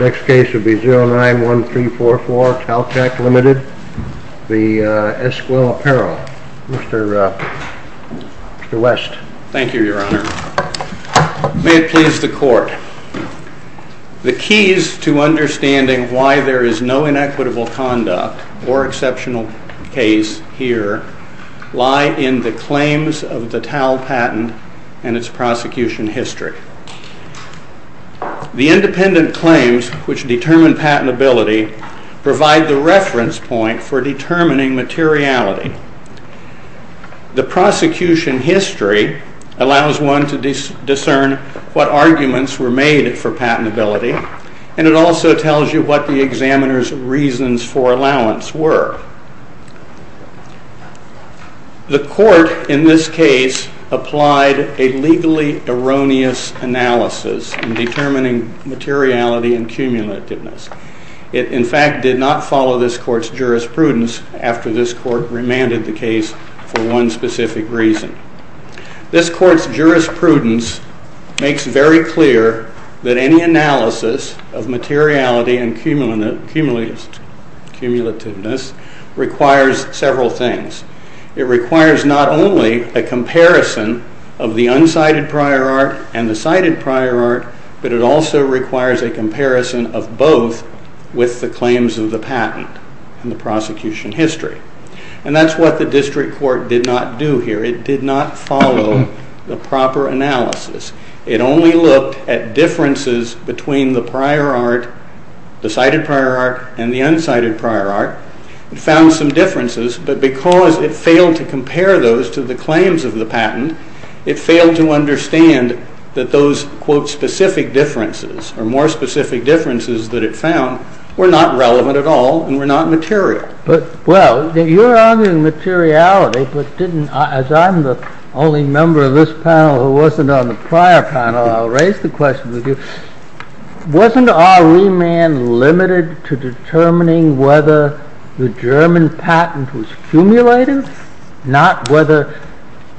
Next case will be 091344 Taltech LTD v. Esquel Apparel. Mr. West. Thank you, your honor. May it please the court. The keys to understanding why there is no inequitable conduct or exceptional case here lie in the claims of the Tal patent and its prosecution history. The independent claims which determine patentability provide the reference point for determining materiality. The prosecution history allows one to discern what arguments were made for patentability and it also tells you what the examiner's reasons for allowance were. The court in this case applied a legally erroneous analysis in determining materiality and cumulativeness. It in fact did not follow this court's jurisprudence after this court remanded the case for one specific reason. This court's jurisprudence makes very clear that any analysis of materiality and cumulativeness requires several things. It requires not only a comparison of the unsighted prior art and the sighted prior art, but it also requires a comparison of both with the claims of the patent and the prosecution history. And that's what the district court did not do here. It did not follow the proper analysis. It only looked at differences between the prior art, the sighted prior art and the unsighted prior art and found some differences. But because it failed to compare those to the claims of the patent, it failed to understand that those quote specific differences or more specific differences that it found were not relevant at all and were not material. Well, you're arguing materiality, but as I'm the only member of this panel who wasn't on the prior panel, I'll raise the question with you. Wasn't our remand limited to determining whether the German patent was cumulative, not whether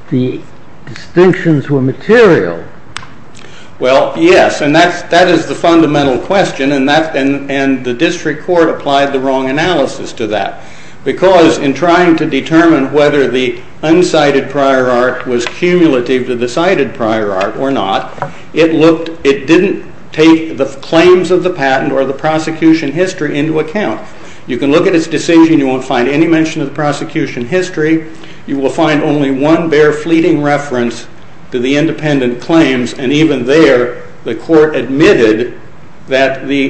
the distinctions were material? Well, yes, and that is the fundamental question and the district court applied the wrong analysis to that. Because in trying to determine whether the unsighted prior art was cumulative to the sighted prior art or not, it didn't take the claims of the patent or the prosecution history into account. You can look at its decision. You won't find any mention of the prosecution history. You will find only one bare fleeting reference to the independent claims. And even there, the court admitted that the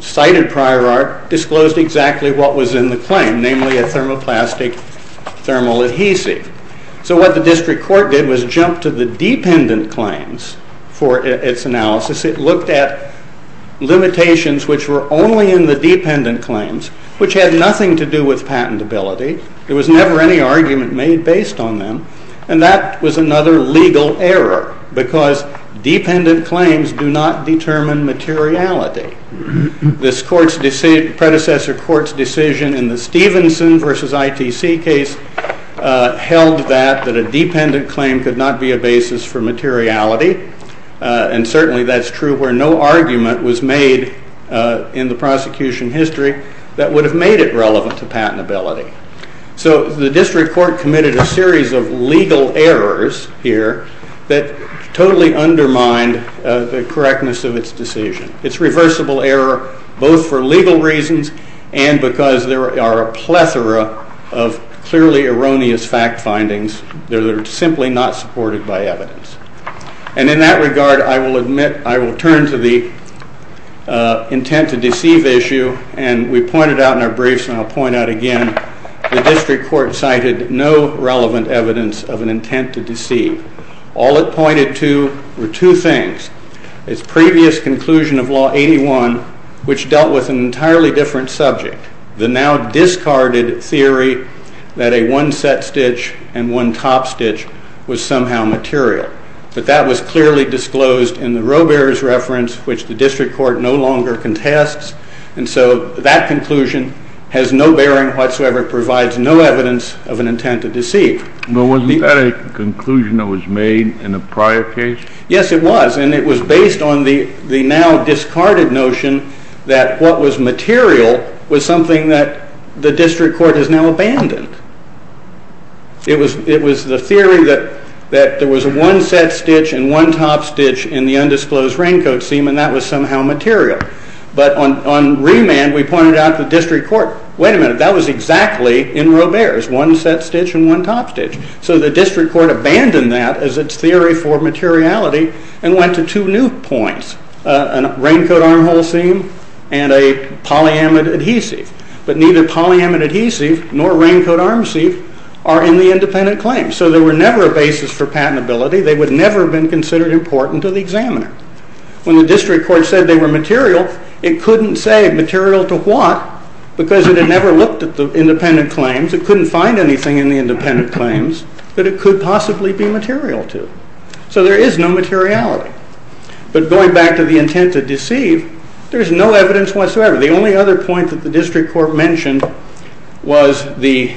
sighted prior art disclosed exactly what was in the claim, namely a thermoplastic thermal adhesive. So what the district court did was jump to the dependent claims for its analysis. It looked at limitations which were only in the dependent claims, which had nothing to do with patentability. There was never any argument made based on them. And that was another legal error because dependent claims do not determine materiality. This predecessor court's decision in the Stevenson v. ITC case held that a dependent claim could not be a basis for materiality. And certainly that's true where no argument was made in the prosecution history that would have made it relevant to patentability. So the district court committed a series of legal errors here that totally undermined the correctness of its decision. It's reversible error both for legal reasons and because there are a plethora of clearly erroneous fact findings that are simply not supported by evidence. And in that regard, I will turn to the intent to deceive issue. And we pointed out in our briefs, and I'll point out again, the district court cited no relevant evidence of an intent to deceive. All it pointed to were two things, its previous conclusion of Law 81, which dealt with an entirely different subject, the now-discarded theory that a one-set stitch and one-top stitch was somehow material. But that was clearly disclosed in the rowbearer's reference, which the district court no longer contests. And so that conclusion has no bearing whatsoever, provides no evidence of an intent to deceive. But wasn't that a conclusion that was made in a prior case? Yes, it was, and it was based on the now-discarded notion that what was material was something that the district court has now abandoned. It was the theory that there was a one-set stitch and one-top stitch in the undisclosed raincoat seam, and that was somehow material. But on remand, we pointed out to the district court, wait a minute, that was exactly in rowbearer's, one-set stitch and one-top stitch. So the district court abandoned that as its theory for materiality and went to two new points, a raincoat armhole seam and a polyamide adhesive. But neither polyamide adhesive nor raincoat arm seam are in the independent claims. So they were never a basis for patentability. They would never have been considered important to the examiner. When the district court said they were material, it couldn't say material to what, because it had never looked at the independent claims. It couldn't find anything in the independent claims that it could possibly be material to. So there is no materiality. But going back to the intent to deceive, there's no evidence whatsoever. The only other point that the district court mentioned was the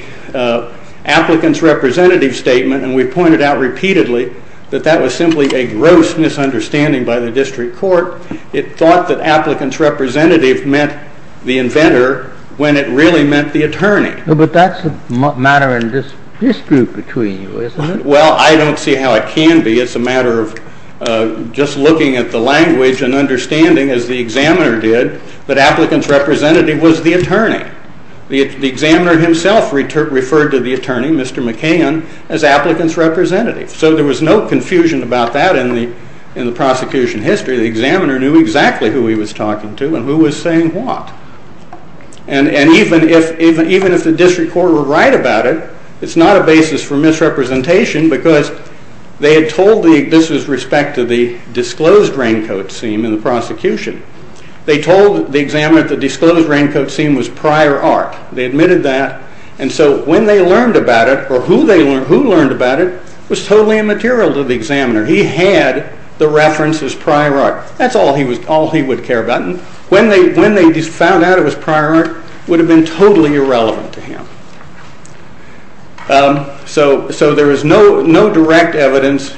applicant's representative statement, and we pointed out repeatedly that that was simply a gross misunderstanding by the district court. It thought that applicant's representative meant the inventor when it really meant the attorney. But that's a matter in this group between you, isn't it? Well, I don't see how it can be. It's a matter of just looking at the language and understanding, as the examiner did, that applicant's representative was the attorney. The examiner himself referred to the attorney, Mr. McCain, as applicant's representative. So there was no confusion about that in the prosecution history. The examiner knew exactly who he was talking to and who was saying what. And even if the district court were right about it, it's not a basis for misrepresentation because they had told the, this was with respect to the disclosed raincoat scene in the prosecution, they told the examiner the disclosed raincoat scene was prior art. They admitted that. And so when they learned about it, or who learned about it, was totally immaterial to the examiner. He had the reference as prior art. That's all he would care about. And when they found out it was prior art, it would have been totally irrelevant to him. So there is no direct evidence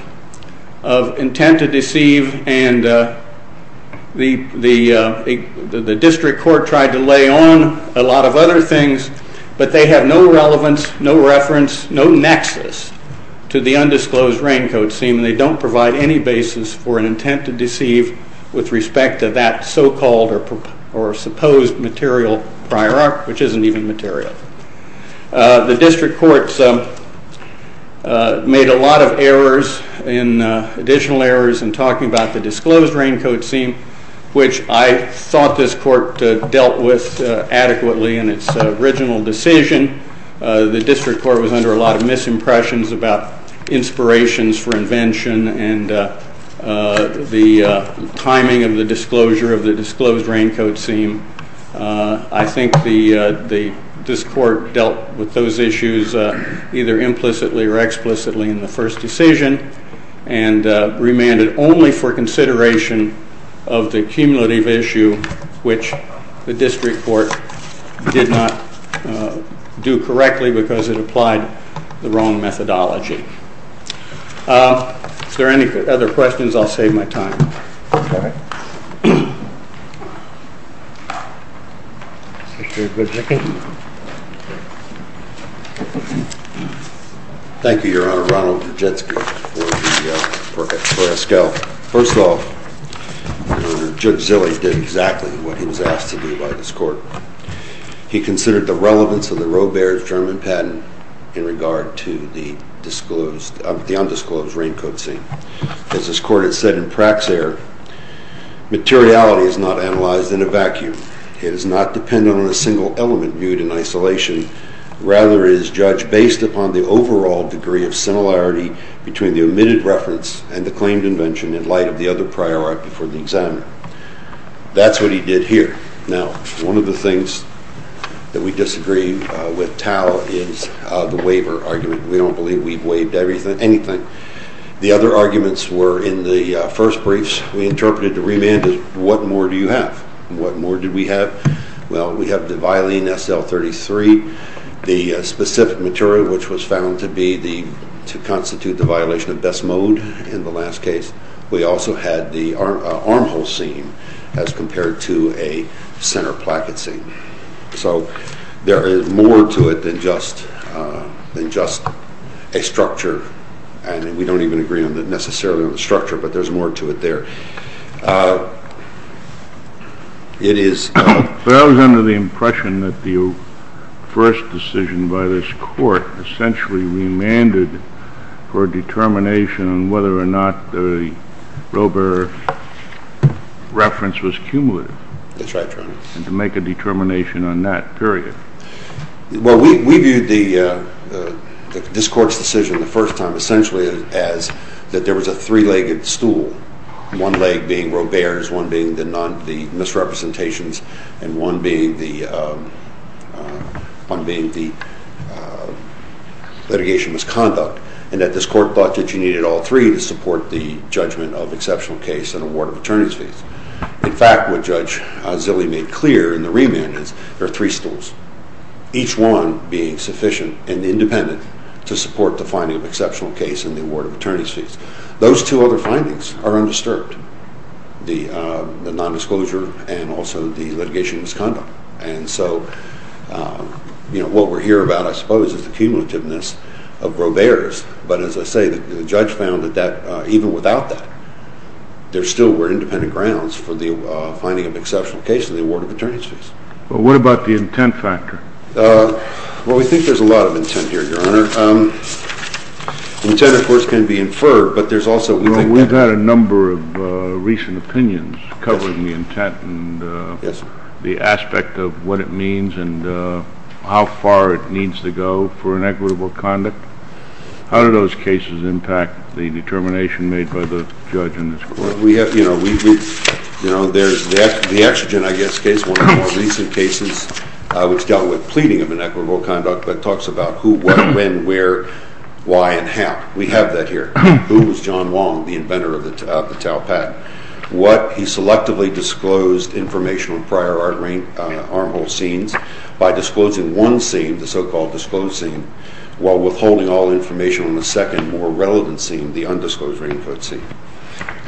of intent to deceive, and the district court tried to lay on a lot of other things, but they have no relevance, no reference, no nexus to the undisclosed raincoat scene. They don't provide any basis for an intent to deceive with respect to that so-called or supposed material prior art, which isn't even material. The district courts made a lot of errors, additional errors, in talking about the disclosed raincoat scene, which I thought this court dealt with adequately in its original decision. The district court was under a lot of misimpressions about inspirations for invention and the timing of the disclosure of the disclosed raincoat scene. I think this court dealt with those issues either implicitly or explicitly in the first decision and remanded only for consideration of the cumulative issue, which the district court did not do correctly because it applied the wrong methodology. If there are any other questions, I'll save my time. Thank you, Your Honor. Ronald Brzezinski for Esquel. Well, first of all, Judge Zille did exactly what he was asked to do by this court. He considered the relevance of the Robert German patent in regard to the undisclosed raincoat scene. As this court has said in Praxair, materiality is not analyzed in a vacuum. It is not dependent on a single element viewed in isolation. Rather, it is judged based upon the overall degree of similarity between the omitted reference and the claimed invention in light of the other priority for the exam. That's what he did here. Now, one of the things that we disagree with Tao is the waiver argument. We don't believe we've waived anything. The other arguments were in the first briefs. We interpreted the remand as what more do you have, and what more did we have? Well, we have the Vylene SL-33, the specific material which was found to constitute the violation of best mode in the last case. We also had the armhole scene as compared to a center placket scene. So there is more to it than just a structure. We don't even agree necessarily on the structure, but there's more to it there. It is... But I was under the impression that the first decision by this court essentially remanded for a determination on whether or not the Roebuck reference was cumulative. That's right, Your Honor. And to make a determination on that period. Well, we viewed this court's decision the first time essentially as that there was a three-legged stool, one leg being Robert's, one being the misrepresentations, and one being the litigation misconduct, and that this court thought that you needed all three to support the judgment of exceptional case and award of attorney's fees. In fact, what Judge Zille made clear in the remand is there are three stools, each one being sufficient and independent to support the finding of exceptional case and the award of attorney's fees. Those two other findings are undisturbed, the nondisclosure and also the litigation misconduct. And so what we're here about, I suppose, is the cumulativeness of Roebuck's, but as I say, the judge found that even without that, there still were independent grounds for the finding of exceptional case and the award of attorney's fees. Well, what about the intent factor? Well, we think there's a lot of intent here, Your Honor. Intent, of course, can be inferred, but there's also – Well, we've had a number of recent opinions covering the intent and the aspect of what it means and how far it needs to go for inequitable conduct. How do those cases impact the determination made by the judge in this court? Well, we have – you know, we – you know, there's – the Extigen, I guess, case, one of the more recent cases, which dealt with pleading of inequitable conduct, but talks about who, what, when, where, why, and how. We have that here. Who was John Wong, the inventor of the Taupat? What – he selectively disclosed information on prior armhole scenes by disclosing one scene, the so-called disclosed scene, while withholding all information on the second, more relevant scene, the undisclosed input scene.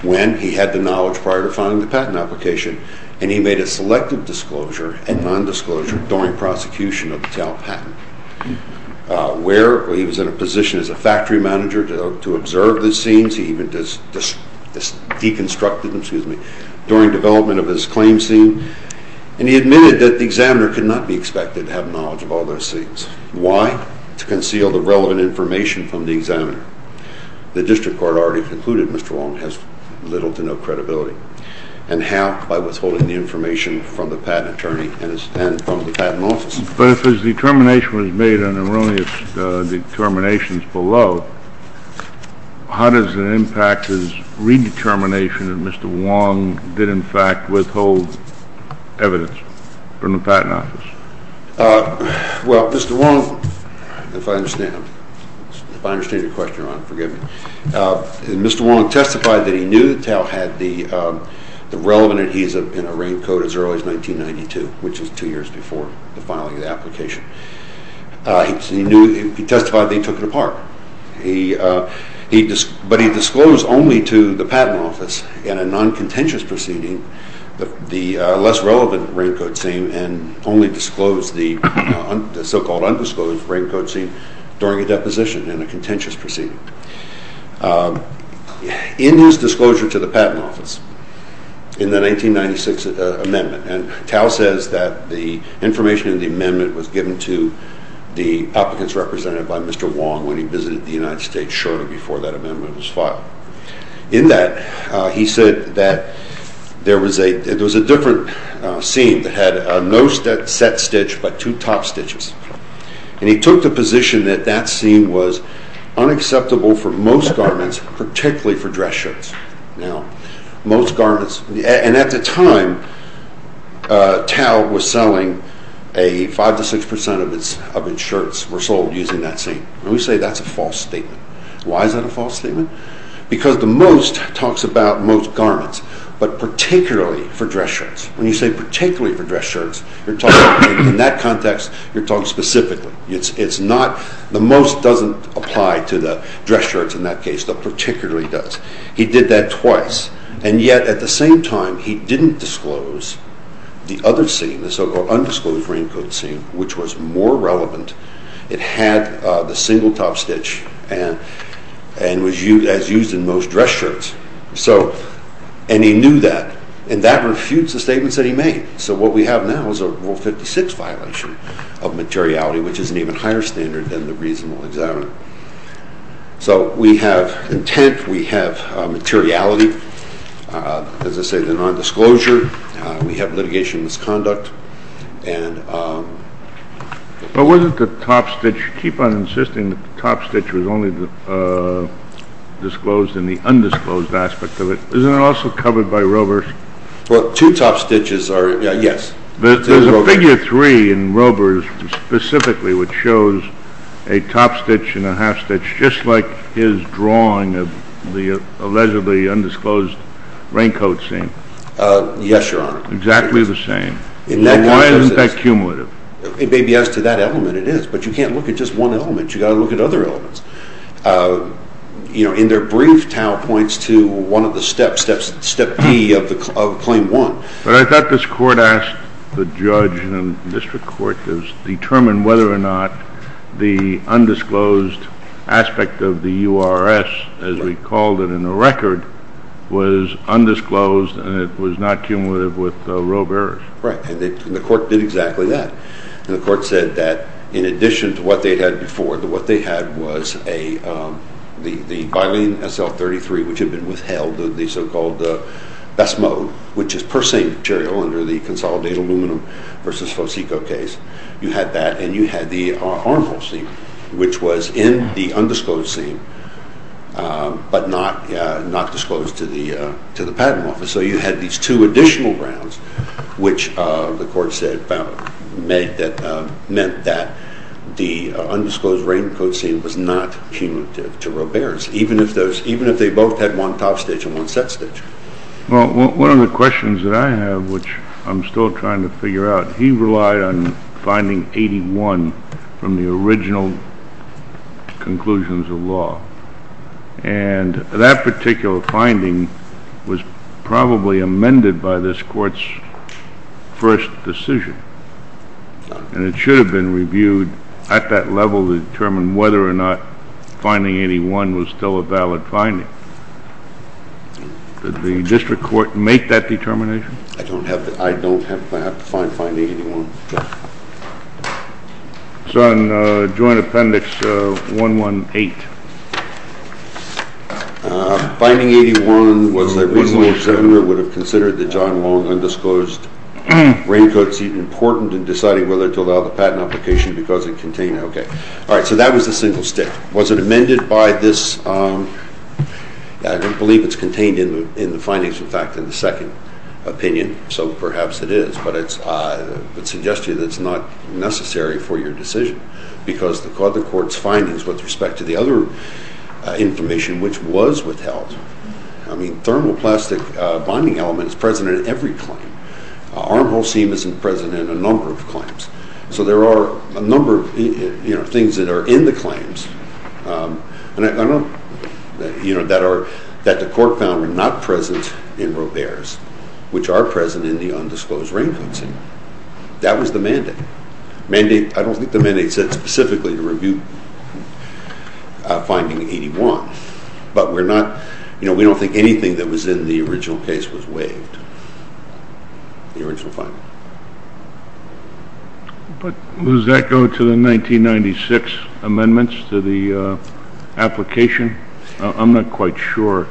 When? He had the knowledge prior to filing the patent application, and he made a selective disclosure and non-disclosure during prosecution of the Taupat. Where? Well, he was in a position as a factory manager to observe the scenes. He even deconstructed them – excuse me – during development of his claim scene, and he admitted that the examiner could not be expected to have knowledge of all those scenes. Why? To conceal the relevant information from the examiner. The district court already concluded Mr. Wong has little to no credibility. And how? By withholding the information from the patent attorney and from the patent office. But if his determination was made on the earliest determinations below, how does it impact his redetermination that Mr. Wong did, in fact, withhold evidence from the patent office? Well, Mr. Wong – if I understand. If I understand your question, Ron, forgive me. Mr. Wong testified that he knew that Tao had the relevant adhesive in a rank code as early as 1992, which is two years before the filing of the application. He testified that he took it apart. But he disclosed only to the patent office in a non-contentious proceeding the less relevant rank code scene and only disclosed the so-called undisclosed rank code scene during a deposition in a contentious proceeding. In his disclosure to the patent office in the 1996 amendment – and Tao says that the information in the amendment was given to the applicants represented by Mr. Wong when he visited the United States shortly before that amendment was filed. In that, he said that there was a different scene that had no set stitch but two top stitches. And he took the position that that scene was unacceptable for most garments, particularly for dress shirts. Now, most garments – and at the time, Tao was selling – five to six percent of its shirts were sold using that scene. And we say that's a false statement. Why is that a false statement? Because the most talks about most garments, but particularly for dress shirts. When you say particularly for dress shirts, in that context, you're talking specifically. The most doesn't apply to the dress shirts in that case, but particularly does. He did that twice. And yet, at the same time, he didn't disclose the other scene, the so-called undisclosed rank code scene, which was more relevant. It had the single top stitch and was used as used in most dress shirts. And he knew that. And that refutes the statements that he made. So what we have now is a Rule 56 violation of materiality, which is an even higher standard than the reasonable examiner. So we have intent. We have materiality. As I say, the non-disclosure. We have litigation misconduct. But was it the top stitch? You keep on insisting that the top stitch was only disclosed in the undisclosed aspect of it. Isn't it also covered by rovers? Well, two top stitches are, yes. There's a figure three in rovers specifically which shows a top stitch and a half stitch, just like his drawing of the allegedly undisclosed rank code scene. Yes, Your Honor. Exactly the same. Why isn't that cumulative? It may be as to that element, it is. But you can't look at just one element. You've got to look at other elements. You know, in their brief, Tao points to one of the steps, Step D of Claim 1. But I thought this court asked the judge and district court to determine whether or not the undisclosed aspect of the URS, as we called it in the record, was undisclosed and it was not cumulative with rovers. Right. And the court did exactly that. And the court said that in addition to what they had before, what they had was the byline SL-33, which had been withheld, the so-called BESS mode, which is per se material under the consolidated aluminum versus FOSICO case. You had that and you had the armhole scene, which was in the undisclosed scene but not disclosed to the patent office. So you had these two additional grounds, which the court said meant that the undisclosed rank code scene was not cumulative to rovers, even if they both had one top stage and one set stage. Well, one of the questions that I have, which I'm still trying to figure out, he relied on finding 81 from the original conclusions of law. And that particular finding was probably amended by this court's first decision. And it should have been reviewed at that level to determine whether or not finding 81 was still a valid finding. Did the district court make that determination? I don't have to find finding 81. It's on Joint Appendix 118. Finding 81 was the reason the executor would have considered the John Long undisclosed rank code scene important in deciding whether to allow the patent application because it contained it. All right, so that was a single stick. Was it amended by this? I don't believe it's contained in the findings, in fact, in the second opinion. So perhaps it is, but I would suggest to you that it's not necessary for your decision because the court's findings with respect to the other information, which was withheld. I mean, thermoplastic bonding element is present in every claim. Armhole seam is present in a number of claims. So there are a number of things that are in the claims that the court found were not present in Robert's, which are present in the undisclosed rank code scene. That was the mandate. I don't think the mandate said specifically to review finding 81, but we don't think anything that was in the original case was waived, the original finding. But does that go to the 1996 amendments to the application? I'm not quite sure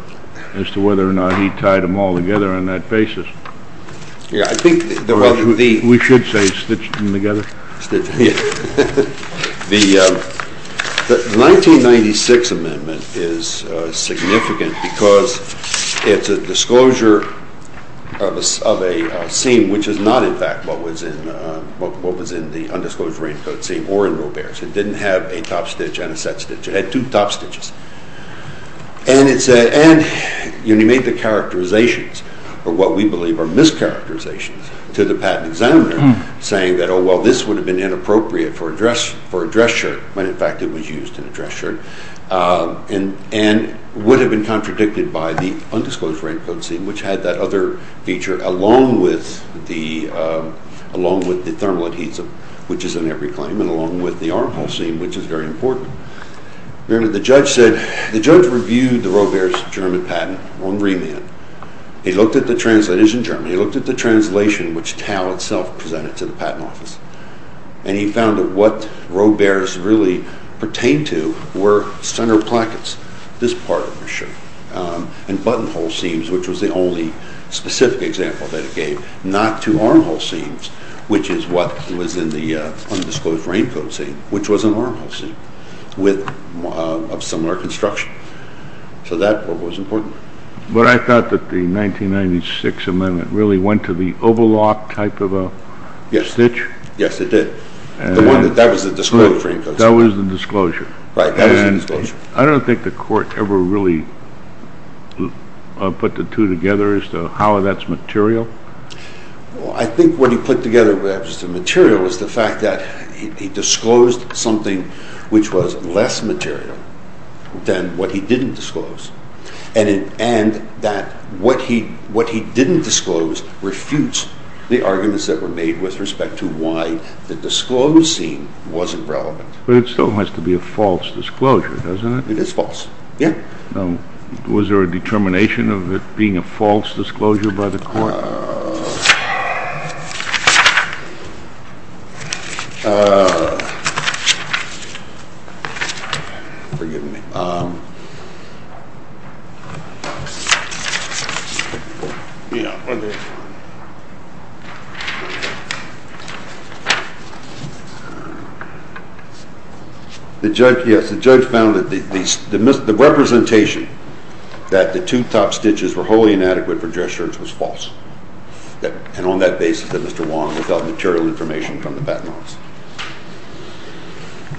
as to whether or not he tied them all together on that basis. We should say he stitched them together. The 1996 amendment is significant because it's a disclosure of a seam, which is not, in fact, what was in the undisclosed rank code scene or in Robert's. It didn't have a top stitch and a set stitch. It had two top stitches. And he made the characterizations, or what we believe are mischaracterizations, to the patent examiner, saying that, oh, well, this would have been inappropriate for a dress shirt, when, in fact, it was used in a dress shirt, and would have been contradicted by the undisclosed rank code scene, which had that other feature along with the thermal adhesive, which is in every claim, and along with the armhole seam, which is very important. Remember, the judge reviewed the Robert's German patent on remand. He looked at the translations in German. He looked at the translation, which Tal itself presented to the patent office, and he found that what Robert's really pertained to were center plackets, this part of the shirt, and buttonhole seams, which was the only specific example that it gave, not two armhole seams, which is what was in the undisclosed rank code scene, which was an armhole seam of similar construction. So that part was important. But I thought that the 1996 amendment really went to the overlock type of a stitch. Yes, it did. That was the disclosure rank code scene. That was the disclosure. Right, that was the disclosure. I don't think the court ever really put the two together as to how that's material. I think what he put together as to material was the fact that he disclosed something which was less material than what he didn't disclose. And that what he didn't disclose refutes the arguments that were made with respect to why the disclosed scene wasn't relevant. But it still has to be a false disclosure, doesn't it? It is false, yes. Was there a determination of it being a false disclosure by the court? Forgive me. Yes, the judge found that the representation that the two top stitches were wholly inadequate for dress shirts was false. And on that basis, Mr. Wong, without material information from the Batten Office.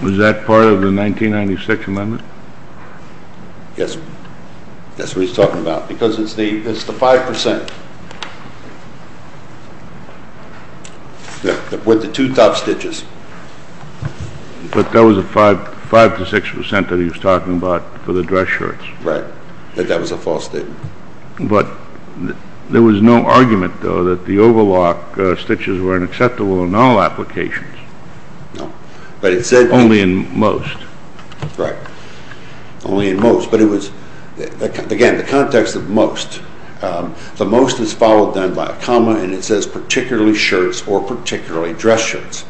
Was that part of the 1996 amendment? Yes, that's what he's talking about. Because it's the 5% with the two top stitches. But that was the 5% to 6% that he was talking about for the dress shirts. Right, but that was a false statement. But there was no argument, though, that the overlock stitches were unacceptable in all applications. No, but it said... Only in most. Right, only in most. But it was, again, the context of most. The most is followed then by a comma and it says particularly shirts or particularly dress shirts.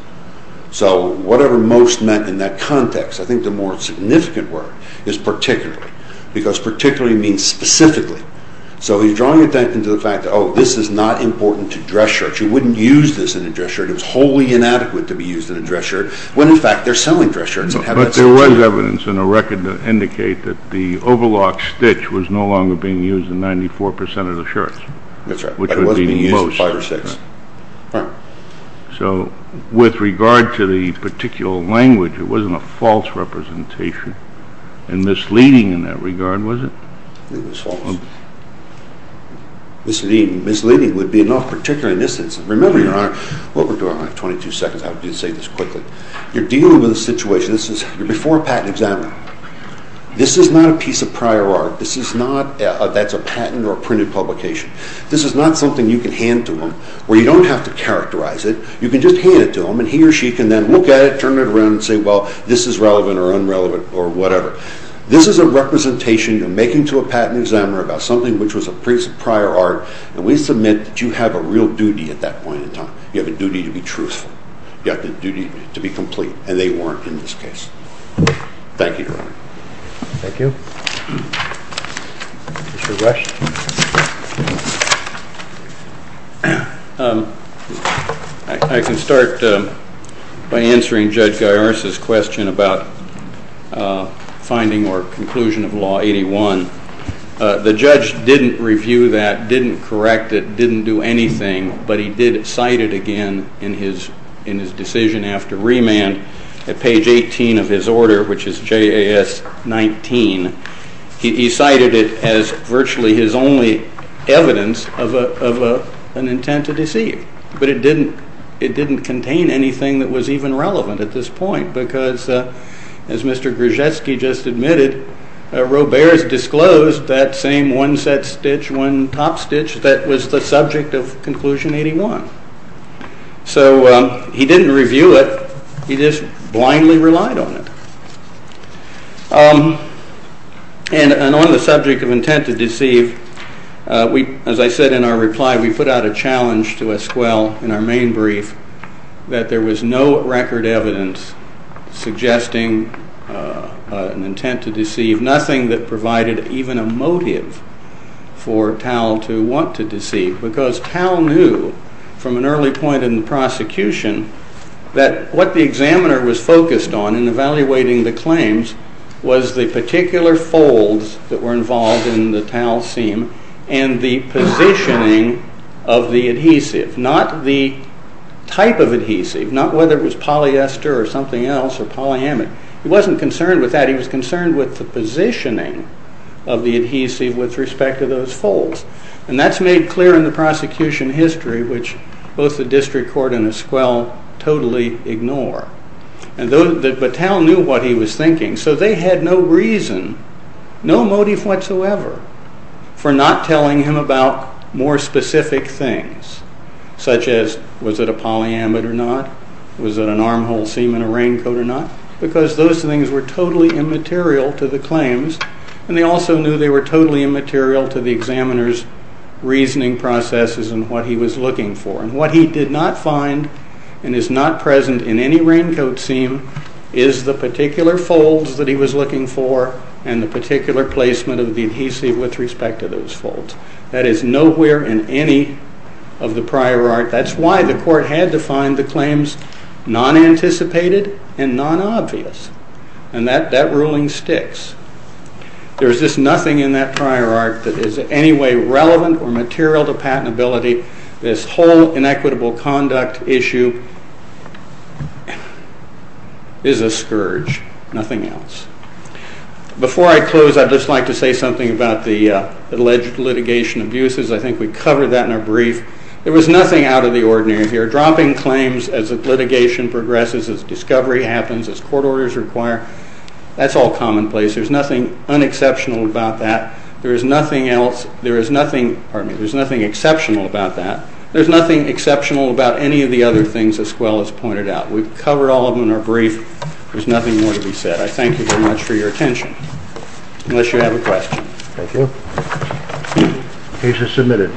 So whatever most meant in that context, I think the more significant word is particularly. Because particularly means specifically. So he's drawing attention to the fact that, oh, this is not important to dress shirts. You wouldn't use this in a dress shirt. It was wholly inadequate to be used in a dress shirt. When, in fact, they're selling dress shirts. But there was evidence in a record that indicated that the overlock stitch was no longer being used in 94% of the shirts. That's right, but it wasn't being used in five or six. So with regard to the particular language, it wasn't a false representation. And misleading in that regard, was it? I think it was false. Misleading would be enough particularly in this instance. Remember, Your Honor, what we're doing, I have 22 seconds. I'll just say this quickly. You're dealing with a situation. You're before a patent examiner. This is not a piece of prior art. That's a patent or a printed publication. This is not something you can hand to him where you don't have to characterize it. You can just hand it to him and he or she can then look at it, turn it around and say, well, this is relevant or unrelevant or whatever. This is a representation you're making to a patent examiner about something which was a piece of prior art, and we submit that you have a real duty at that point in time. You have a duty to be truthful. You have a duty to be complete, and they weren't in this case. Thank you, Your Honor. Thank you. Mr. Rush? I can start by answering Judge Gaiars' question about finding or conclusion of Law 81. The judge didn't review that, didn't correct it, didn't do anything, but he did cite it again in his decision after remand at page 18 of his order, which is JAS 19. He cited it as virtually his only evidence of an intent to deceive, but it didn't contain anything that was even relevant at this point, because as Mr. Grzeski just admitted, Roberts disclosed that same one set stitch, one top stitch that was the subject of Conclusion 81. So he didn't review it. He just blindly relied on it. And on the subject of intent to deceive, as I said in our reply, we put out a challenge to Esquell in our main brief that there was no record evidence suggesting an intent to deceive, nothing that provided even a motive for Tal to want to deceive, because Tal knew from an early point in the prosecution that what the examiner was focused on in evaluating the claims was the particular folds that were involved in the Tal seam and the positioning of the adhesive, not the type of adhesive, not whether it was polyester or something else or polyamic. He wasn't concerned with that. He was concerned with the positioning of the adhesive with respect to those folds, and that's made clear in the prosecution history, which both the district court and Esquell totally ignore. But Tal knew what he was thinking, so they had no reason, no motive whatsoever, for not telling him about more specific things, such as was it a polyamid or not, was it an armhole seam in a raincoat or not, because those things were totally immaterial to the claims, and they also knew they were totally immaterial to the examiner's reasoning processes and what he was looking for. And what he did not find and is not present in any raincoat seam is the particular folds that he was looking for and the particular placement of the adhesive with respect to those folds. That is nowhere in any of the prior art. That's why the court had to find the claims non-anticipated and non-obvious, and that ruling sticks. There's just nothing in that prior art that is in any way relevant or material to patentability. This whole inequitable conduct issue is a scourge, nothing else. Before I close, I'd just like to say something about the alleged litigation abuses. I think we covered that in a brief. There was nothing out of the ordinary here. Dropping claims as litigation progresses, as discovery happens, as court orders require, that's all commonplace. There's nothing unexceptional about that. There's nothing exceptional about that. There's nothing exceptional about any of the other things as well as pointed out. We've covered all of them in our brief. There's nothing more to be said. I thank you very much for your attention, unless you have a question. Thank you. The case is submitted.